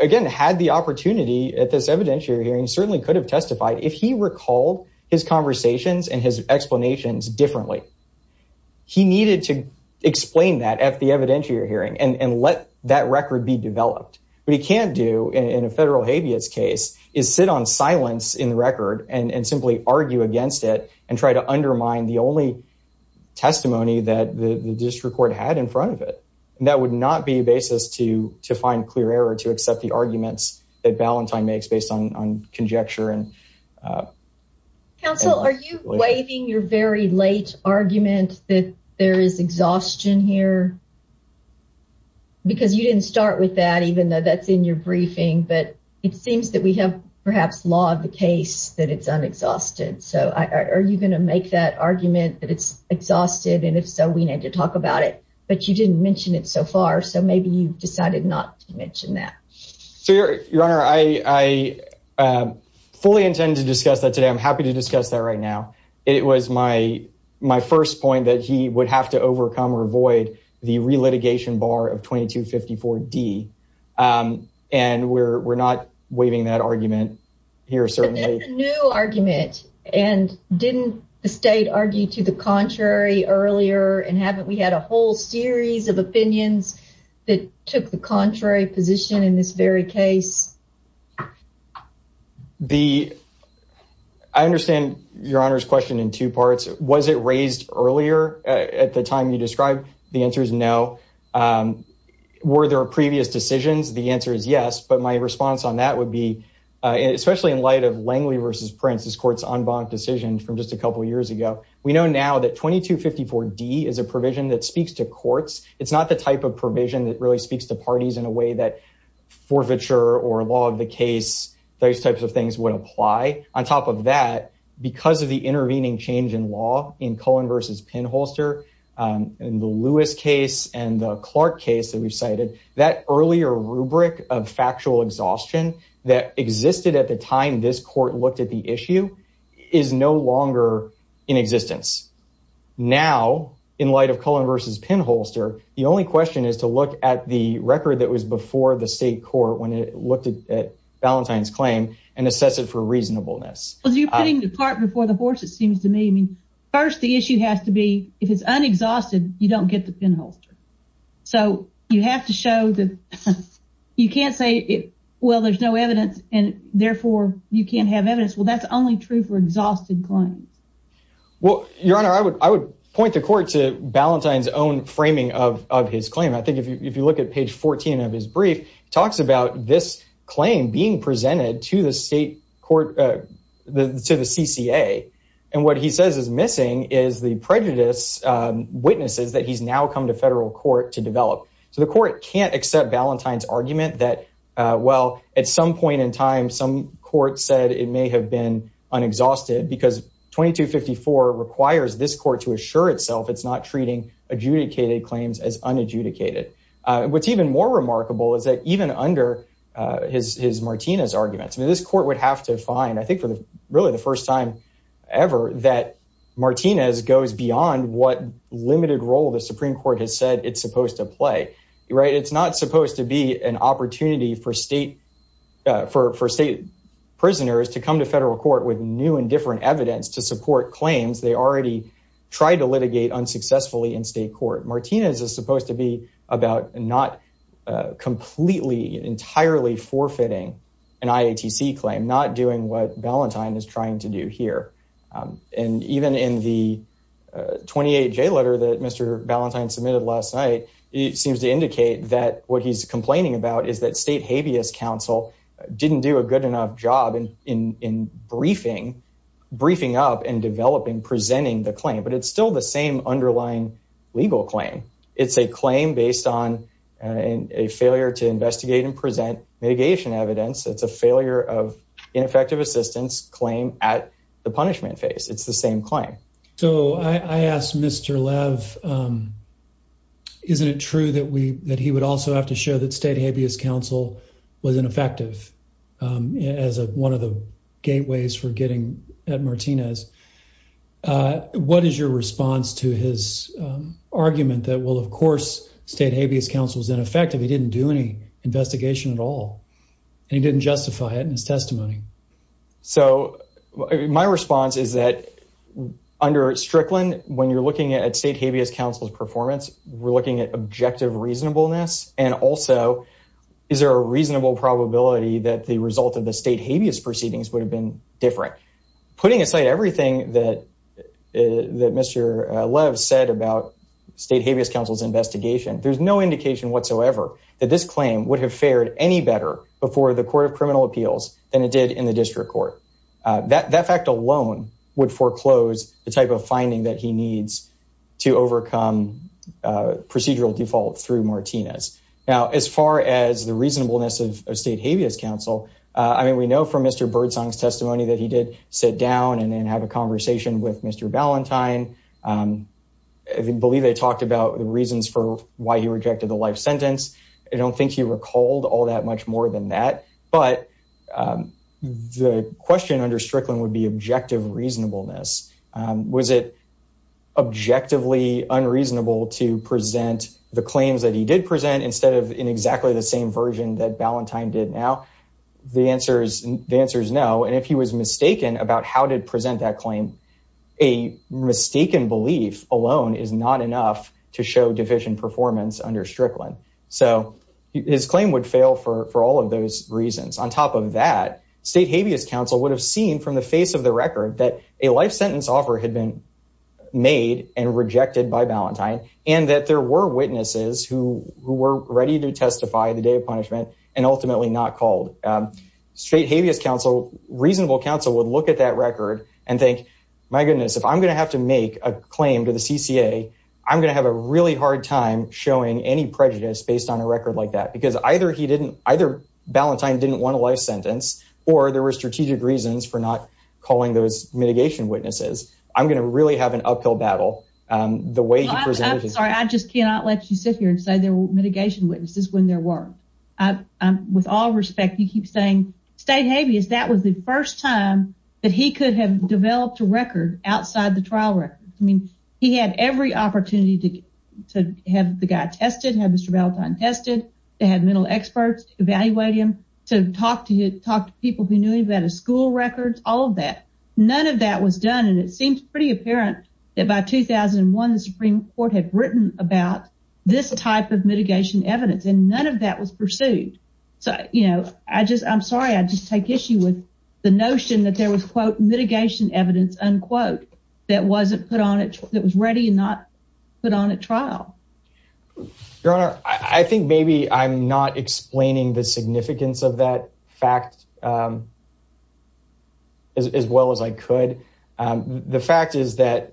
again, had the opportunity at this evidentiary hearing, certainly could have testified, if he recalled his conversations and his explanations differently. He needed to explain that at the evidentiary hearing and let that record be developed. What he can't do in a federal habeas case is sit on silence in the record and simply argue against it and try to undermine the only testimony that the district court had in front of it. And that would not be a basis to find clear error to accept the arguments that Ballantyne makes based on conjecture. Counsel, are you waiving your very late argument that there is exhaustion here? Because you didn't start with that, even though that's in your briefing. But it seems that we have perhaps law of the case that it's unexhausted. So are you going to make that argument that it's exhausted? And if so, we need to talk about it. But you didn't mention it so far. So maybe you decided not to mention that. Your Honor, I fully intend to discuss that today. I'm happy to discuss that right now. It was my my first point that he would have to overcome or avoid the relitigation bar of 2254 D. And we're not waiving that argument here. Certainly a new argument. And didn't the state argue to the contrary earlier? And haven't we had a whole series of opinions that took the contrary position in this very case? I understand your Honor's question in two parts. Was it raised earlier at the time you described? The answer is no. Were there previous decisions? The answer is yes. But my response on that would be, especially in light of Langley versus Prince, this court's en banc decision from just a couple of years ago. We know now that 2254 D is a provision that speaks to courts. It's not the type of provision that really speaks to parties in a way that forfeiture or law of the case, those types of things would apply. On top of that, because of the intervening change in law in Cohen versus Penholster and the Lewis case and the Clark case that we've cited, that earlier rubric of factual exhaustion that existed at the time this court looked at the issue is no longer in existence. Now, in light of Cohen versus Penholster, the only question is to look at the record that was before the state court when it looked at Valentine's claim and assess it for reasonableness. Well, you're putting the cart before the horse, it seems to me. I mean, first, the issue has to be if it's unexhausted, you don't get the penholster. So you have to show that you can't say, well, there's no evidence and therefore you can't have evidence. Well, that's only true for exhausted claims. Well, Your Honor, I would I would point the court to Valentine's own framing of his claim. I think if you look at page 14 of his brief, he talks about this claim being presented to the state court, to the CCA. And what he says is missing is the prejudice witnesses that he's now come to federal court to develop. So the court can't accept Valentine's argument that, well, at some point in time, some court said it may have been unexhausted because 2254 requires this court to assure itself it's not treating adjudicated claims as unadjudicated. What's even more remarkable is that even under his his Martinez arguments, this court would have to find, I think, really the first time ever that Martinez goes beyond what limited role the Supreme Court has said it's supposed to play. Right. It's not supposed to be an opportunity for state for for state prisoners to come to federal court with new and different evidence to support claims they already tried to litigate unsuccessfully in state court. Martinez is supposed to be about not completely entirely forfeiting an IATC claim, not doing what Valentine is trying to do here. And even in the 28 J letter that Mr. Valentine submitted last night, it seems to indicate that what he's complaining about is that state habeas counsel didn't do a good enough job in in in briefing, briefing up and developing, presenting the claim. But it's still the same underlying legal claim. It's a claim based on a failure to investigate and present mitigation evidence. It's a failure of ineffective assistance claim at the punishment phase. It's the same claim. So I asked Mr. Lev, isn't it true that we that he would also have to show that state habeas counsel was ineffective as one of the gateways for getting at Martinez? What is your response to his argument that will, of course, state habeas counsel is ineffective. He didn't do any investigation at all. He didn't justify it in his testimony. So my response is that under Strickland, when you're looking at state habeas counsel's performance, we're looking at objective reasonableness. And also, is there a reasonable probability that the result of the state habeas proceedings would have been different? Putting aside everything that Mr. Lev said about state habeas counsel's investigation, there's no indication whatsoever that this claim would have fared any better before the court of criminal appeals than it did in the district court. That fact alone would foreclose the type of finding that he needs to overcome procedural default through Martinez. Now, as far as the reasonableness of state habeas counsel, I mean, we know from Mr. Birdsong's testimony that he did sit down and then have a conversation with Mr. Valentine. I believe they talked about the reasons for why he rejected the life sentence. I don't think he recalled all that much more than that. But the question under Strickland would be objective reasonableness. Was it objectively unreasonable to present the claims that he did present instead of in exactly the same version that Valentine did now? The answer is no. And if he was mistaken about how to present that claim, a mistaken belief alone is not enough to show deficient performance under Strickland. So his claim would fail for all of those reasons. On top of that, state habeas counsel would have seen from the face of the record that a life sentence offer had been made and rejected by Valentine and that there were witnesses who were ready to testify the day of punishment and ultimately not called. State habeas counsel, reasonable counsel, would look at that record and think, my goodness, if I'm going to have to make a claim to the CCA, I'm going to have a really hard time showing any prejudice based on a record like that. Because either he didn't, either Valentine didn't want a life sentence or there were strategic reasons for not calling those mitigation witnesses. I'm going to really have an uphill battle. I'm sorry, I just cannot let you sit here and say there were mitigation witnesses when there were. With all respect, you keep saying state habeas, that was the first time that he could have developed a record outside the trial record. I mean, he had every opportunity to have the guy tested, have Mr. Valentine tested, to have mental experts evaluate him, to talk to people who knew him about his school records, all of that. None of that was done and it seems pretty apparent that by 2001 the Supreme Court had written about this type of mitigation evidence and none of that was pursued. I'm sorry, I just take issue with the notion that there was, quote, mitigation evidence, unquote, that was ready and not put on at trial. Your Honor, I think maybe I'm not explaining the significance of that fact as well as I could. It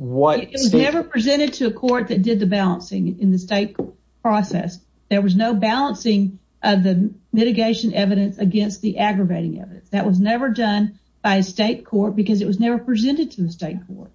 was never presented to a court that did the balancing in the state process. There was no balancing of the mitigation evidence against the aggravating evidence. That was never done by a state court because it was never presented to the state court.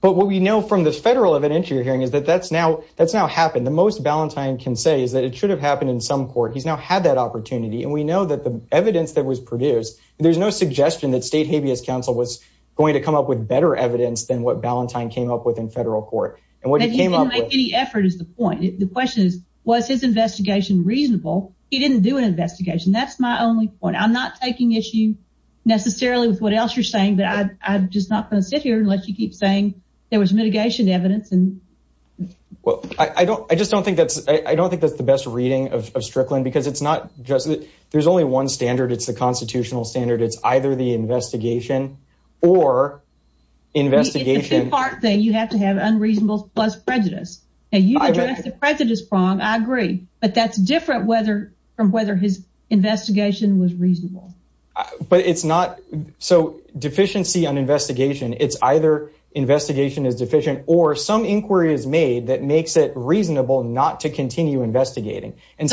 But what we know from the federal evidence you're hearing is that that's now happened. The most Valentine can say is that it should have happened in some court. He's now had that opportunity and we know that the evidence that was produced, there's no suggestion that state habeas counsel was going to come up with better evidence than what Valentine came up with in federal court. He didn't make any effort is the point. The question is, was his investigation reasonable? He didn't do an investigation. That's my only point. I'm not taking issue necessarily with what else you're saying, but I'm just not going to sit here and let you keep saying there was mitigation evidence. I just don't think that's the best reading of Strickland because it's not just that there's only one standard. It's the constitutional standard. It's either the investigation or investigation. It's a two-part thing. You have to have unreasonable plus prejudice. You addressed the prejudice prong. I agree. But that's different from whether his investigation was reasonable. But it's not. So deficiency on investigation, it's either investigation is deficient or some inquiry is made that makes it reasonable not to continue investigating. What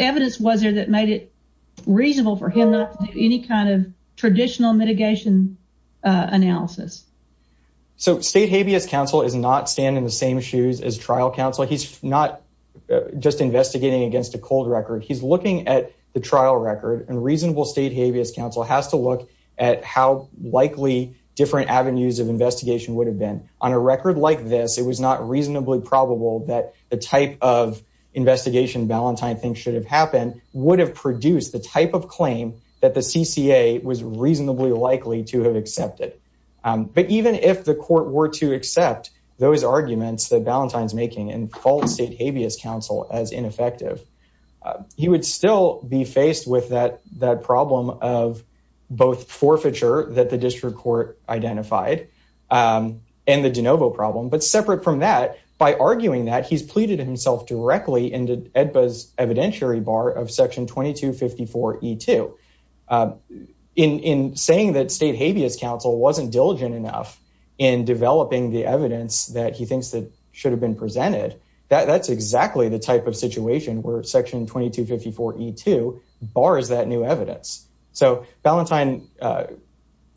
evidence was there that made it reasonable for him not to do any kind of traditional mitigation analysis? State habeas counsel is not standing in the same shoes as trial counsel. He's not just investigating against a cold record. He's looking at the trial record and reasonable state habeas counsel has to look at how likely different avenues of investigation would have been on a record like this. It was not reasonably probable that the type of investigation Ballantyne things should have happened would have produced the type of claim that the CCA was reasonably likely to have accepted. But even if the court were to accept those arguments that Ballantyne's making and false state habeas counsel as ineffective, he would still be faced with that problem of both forfeiture that the district court identified and the de novo problem. But separate from that, by arguing that he's pleaded himself directly into Edba's evidentiary bar of section 2254 E2 in saying that state habeas counsel wasn't diligent enough in developing the evidence that he thinks that should have been presented. That's exactly the type of situation where section 2254 E2 bars that new evidence. So Ballantyne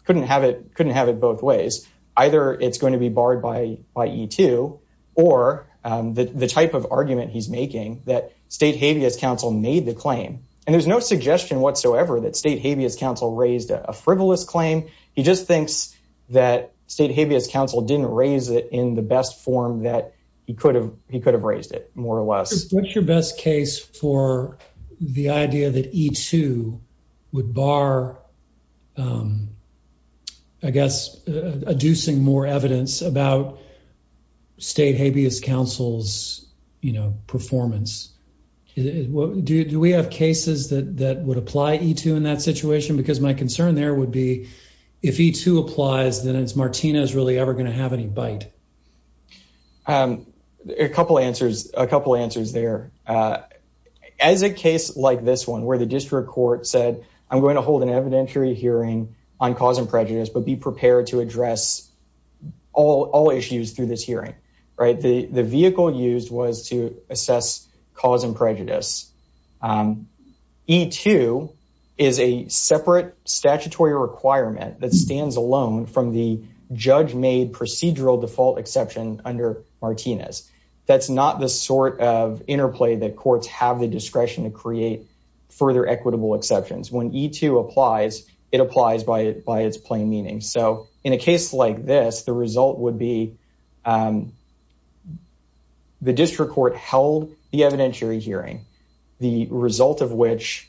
couldn't have it both ways. Either it's going to be barred by E2 or the type of argument he's making that state habeas counsel made the claim. And there's no suggestion whatsoever that state habeas counsel raised a frivolous claim. He just thinks that state habeas counsel didn't raise it in the best form that he could have. He could have raised it more or less. What's your best case for the idea that E2 would bar, I guess, adducing more evidence about state habeas counsel's performance? Do we have cases that would apply E2 in that situation? Because my concern there would be if E2 applies, then is Martinez really ever going to have any bite? A couple answers. A couple answers there. As a case like this one where the district court said, I'm going to hold an evidentiary hearing on cause and prejudice, but be prepared to address all issues through this hearing. The vehicle used was to assess cause and prejudice. E2 is a separate statutory requirement that stands alone from the judge made procedural default exception under Martinez. That's not the sort of interplay that courts have the discretion to create further equitable exceptions. When E2 applies, it applies by its plain meaning. So in a case like this, the result would be the district court held the evidentiary hearing, the result of which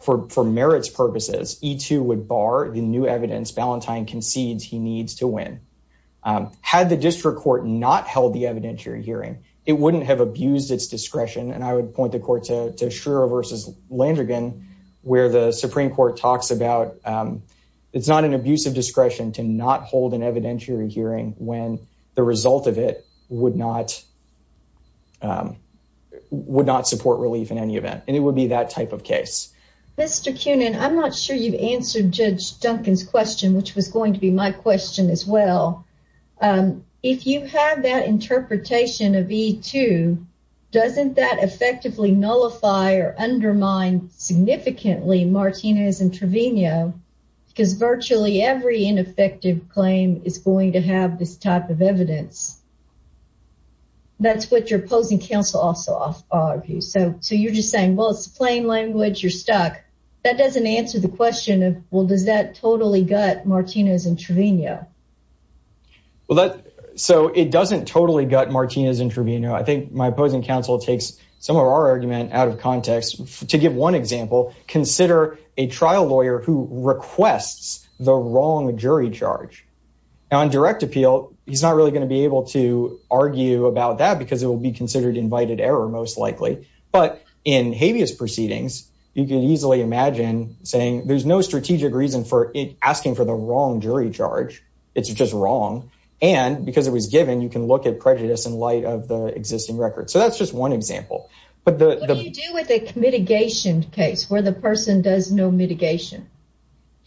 for merits purposes, E2 would bar the new evidence Valentine concedes he needs to win. Had the district court not held the evidentiary hearing, it wouldn't have abused its discretion. And I would point the court to Shiro versus Landrigan, where the Supreme Court talks about it's not an abusive discretion to not hold an evidentiary hearing when the result of it would not support relief in any event. And it would be that type of case. Mr. Kunin, I'm not sure you've answered Judge Duncan's question, which was going to be my question as well. If you have that interpretation of E2, doesn't that effectively nullify or undermine significantly Martinez and Trevino? Because virtually every ineffective claim is going to have this type of evidence. That's what your opposing counsel also argues. So you're just saying, well, it's plain language. You're stuck. That doesn't answer the question of, well, does that totally gut Martinez and Trevino? Well, so it doesn't totally gut Martinez and Trevino. I think my opposing counsel takes some of our argument out of context. To give one example, consider a trial lawyer who requests the wrong jury charge on direct appeal. Well, he's not really going to be able to argue about that because it will be considered invited error, most likely. But in habeas proceedings, you can easily imagine saying there's no strategic reason for asking for the wrong jury charge. It's just wrong. And because it was given, you can look at prejudice in light of the existing record. So that's just one example. What do you do with a mitigation case where the person does no mitigation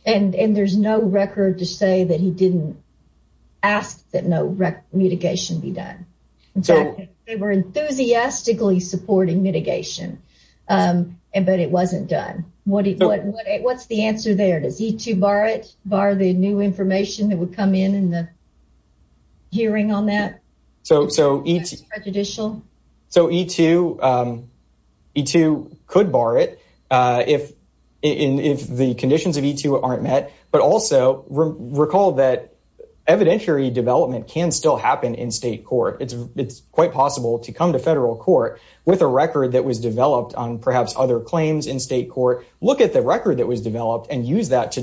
and there's no record to say that he didn't ask that no mitigation be done? They were enthusiastically supporting mitigation, but it wasn't done. What's the answer there? Does E2 bar the new information that would come in in the hearing on that? So E2 could bar it if the conditions of E2 aren't met. But also recall that evidentiary development can still happen in state court. It's quite possible to come to federal court with a record that was developed on perhaps other claims in state court. Look at the record that was developed and use that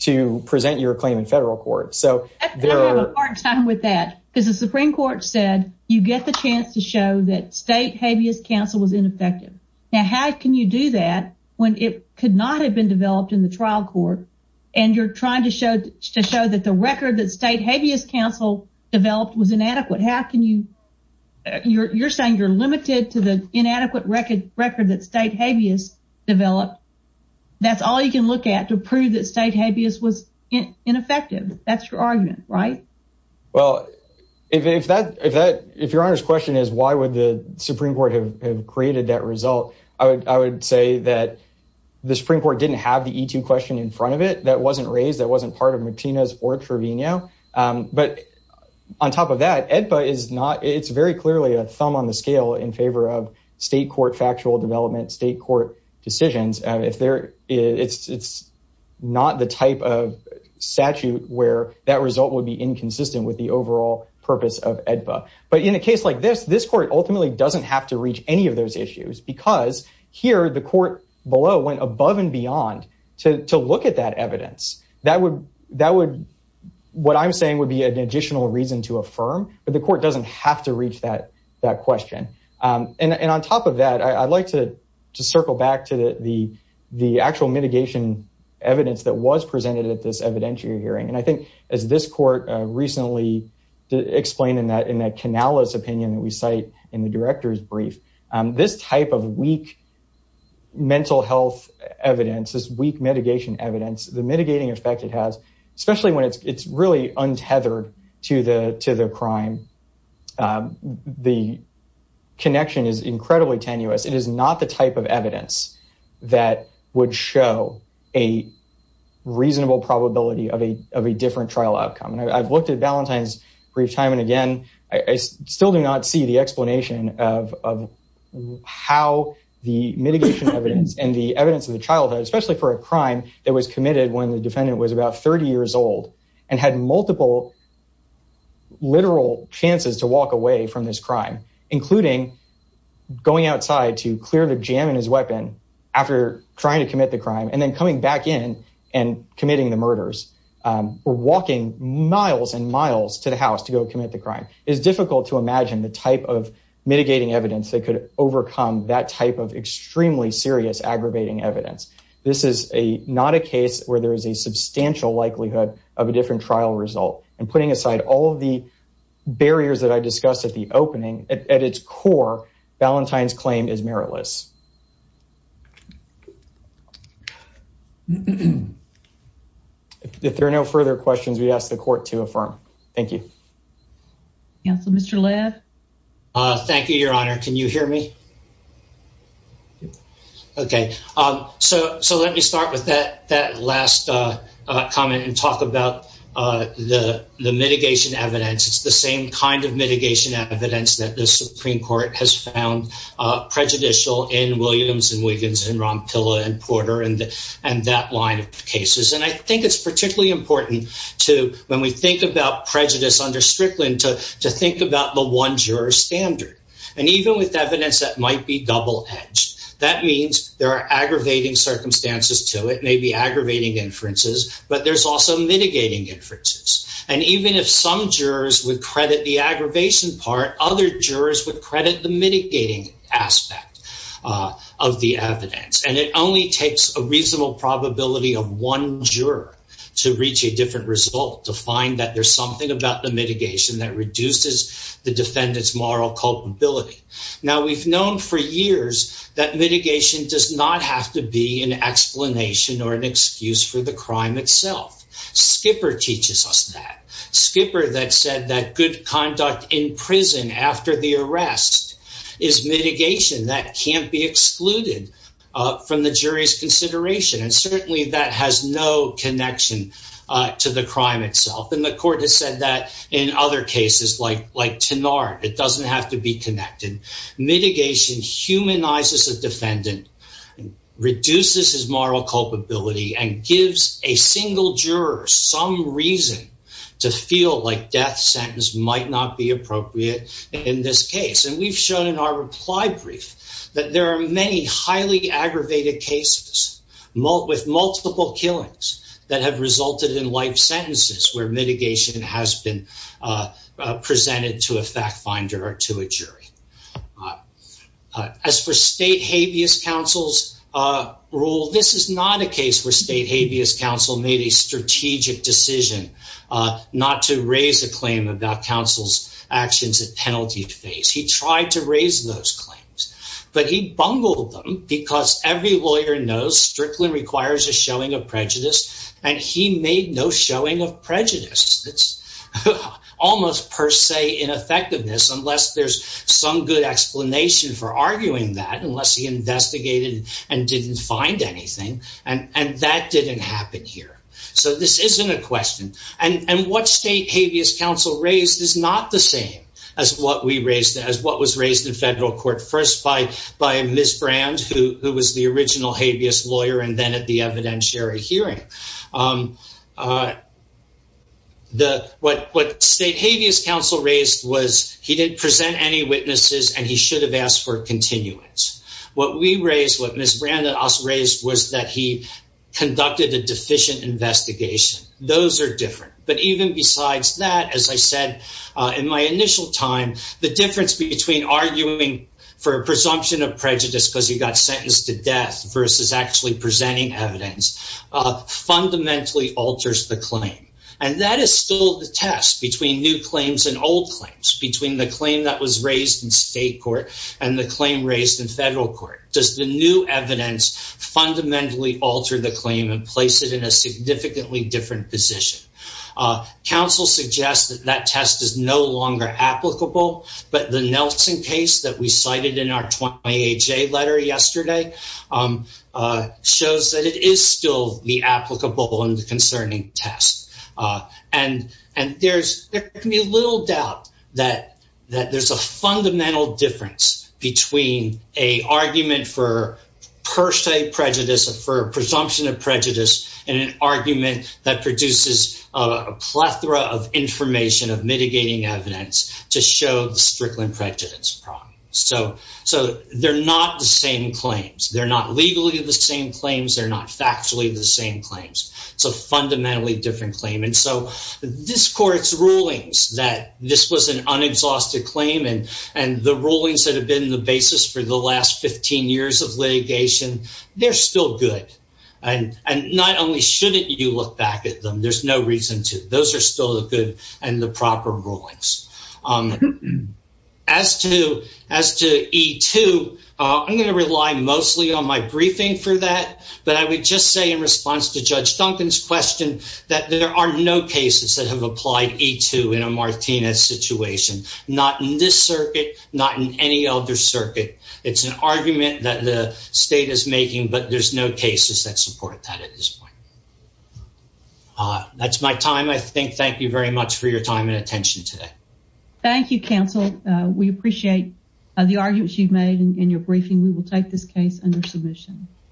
to present your claim in federal court. So there are time with that because the Supreme Court said you get the chance to show that state habeas counsel was ineffective. Now, how can you do that when it could not have been developed in the trial court and you're trying to show to show that the record that state habeas counsel developed was inadequate? How can you you're saying you're limited to the inadequate record record that state habeas developed? That's all you can look at to prove that state habeas was ineffective. That's your argument, right? But in a case like this, this court ultimately doesn't have to reach any of those issues because here the court below went above and beyond to look at that evidence that would that would what I'm saying would be an additional reason to affirm, but the court doesn't have to reach that question. And on top of that, I'd like to circle back to the the actual mitigation evidence that was presented at this evidentiary hearing. And I think as this court recently explained in that in that Canalis opinion that we cite in the director's brief, this type of weak mental health evidence is weak mitigation evidence. The mitigating effect it has, especially when it's really untethered to the to the crime, the connection is incredibly tenuous. It is not the type of evidence that would show a reasonable probability of a of a different trial outcome. And I've looked at Valentine's brief time and again, I still do not see the explanation of how the mitigation evidence and the evidence of the childhood, especially for a crime that was committed when the defendant was about 30 years old and had multiple literal chances to walk away from this crime, including going outside to clear the jam in his weapon after trying to commit the crime and then coming back in and committing the murders. Walking miles and miles to the house to go commit the crime is difficult to imagine the type of mitigating evidence that could overcome that type of extremely serious aggravating evidence. This is a not a case where there is a substantial likelihood of a different trial result and putting aside all of the barriers that I discussed at the opening at its core. Valentine's claim is meritless. If there are no further questions, we ask the court to affirm. Thank you. Yes, Mr. Thank you, Your Honor. Can you hear me? OK, so so let me start with that. That last comment and talk about the mitigation evidence. It's the same kind of mitigation evidence that the Supreme Court has found prejudicial in Williams and Wiggins and Ron Pilla and Porter and and that line of cases. And I think it's particularly important to when we think about prejudice under Strickland to to think about the one juror standard. And even with evidence that might be double edged, that means there are aggravating circumstances to it may be aggravating inferences, but there's also mitigating inferences. And even if some jurors would credit the aggravation part, other jurors would credit the mitigating aspect of the evidence. And it only takes a reasonable probability of one juror to reach a different result to find that there's something about the mitigation that reduces the defendant's moral culpability. Now, we've known for years that mitigation does not have to be an explanation or an excuse for the crime itself. Skipper teaches us that Skipper that said that good conduct in prison after the arrest is mitigation that can't be excluded from the jury's consideration. And certainly that has no connection to the crime itself. And the court has said that in other cases, like like tonight, it doesn't have to be connected. Mitigation humanizes a defendant, reduces his moral culpability and gives a single juror some reason to feel like death sentence might not be appropriate in this case. And we've shown in our reply brief that there are many highly aggravated cases with multiple killings that have resulted in life sentences where mitigation has been presented to a fact finder or to a jury. As for state habeas counsel's rule, this is not a case where state habeas counsel made a strategic decision not to raise a claim about counsel's actions at penalty phase. He tried to raise those claims, but he bungled them because every lawyer knows Strickland requires a showing of prejudice and he made no showing of prejudice. It's almost per se ineffectiveness unless there's some good explanation for arguing that unless he investigated and didn't find anything. And that didn't happen here. So this isn't a question. And what state habeas counsel raised is not the same as what we raised as what was raised in federal court first by by Ms. Brand, who was the original habeas lawyer and then at the evidentiary hearing. The what what state habeas counsel raised was he didn't present any witnesses and he should have asked for continuance. What we raised, what Ms. Brand also raised was that he conducted a deficient investigation. Those are different. But even besides that, as I said, in my initial time, the difference between arguing for a presumption of prejudice because he got sentenced to death versus actually presenting evidence fundamentally alters the claim. And that is still the test between new claims and old claims between the claim that was raised in state court and the claim raised in federal court. Does the new evidence fundamentally alter the claim and place it in a significantly different position? Counsel suggests that that test is no longer applicable. But the Nelson case that we cited in our letter yesterday shows that it is still the applicable and concerning test. And and there's there can be little doubt that that there's a fundamental difference between a argument for per se prejudice for presumption of prejudice and an argument that produces a plethora of information of mitigating evidence to show the Strickland prejudice problem. So so they're not the same claims. They're not legally the same claims. They're not factually the same claims. So fundamentally different claim. And so this court's rulings that this was an unexhausted claim and and the rulings that have been the basis for the last 15 years of litigation, they're still good. And and not only shouldn't you look back at them, there's no reason to. Those are still the good and the proper rulings. As to as to E2, I'm going to rely mostly on my briefing for that. But I would just say in response to Judge Duncan's question that there are no cases that have applied E2 in a Martinez situation, not in this circuit, not in any other circuit. It's an argument that the state is making, but there's no cases that support that at this point. That's my time, I think. Thank you very much for your time and attention today. Thank you, counsel. We appreciate the arguments you've made in your briefing. We will take this case under submission.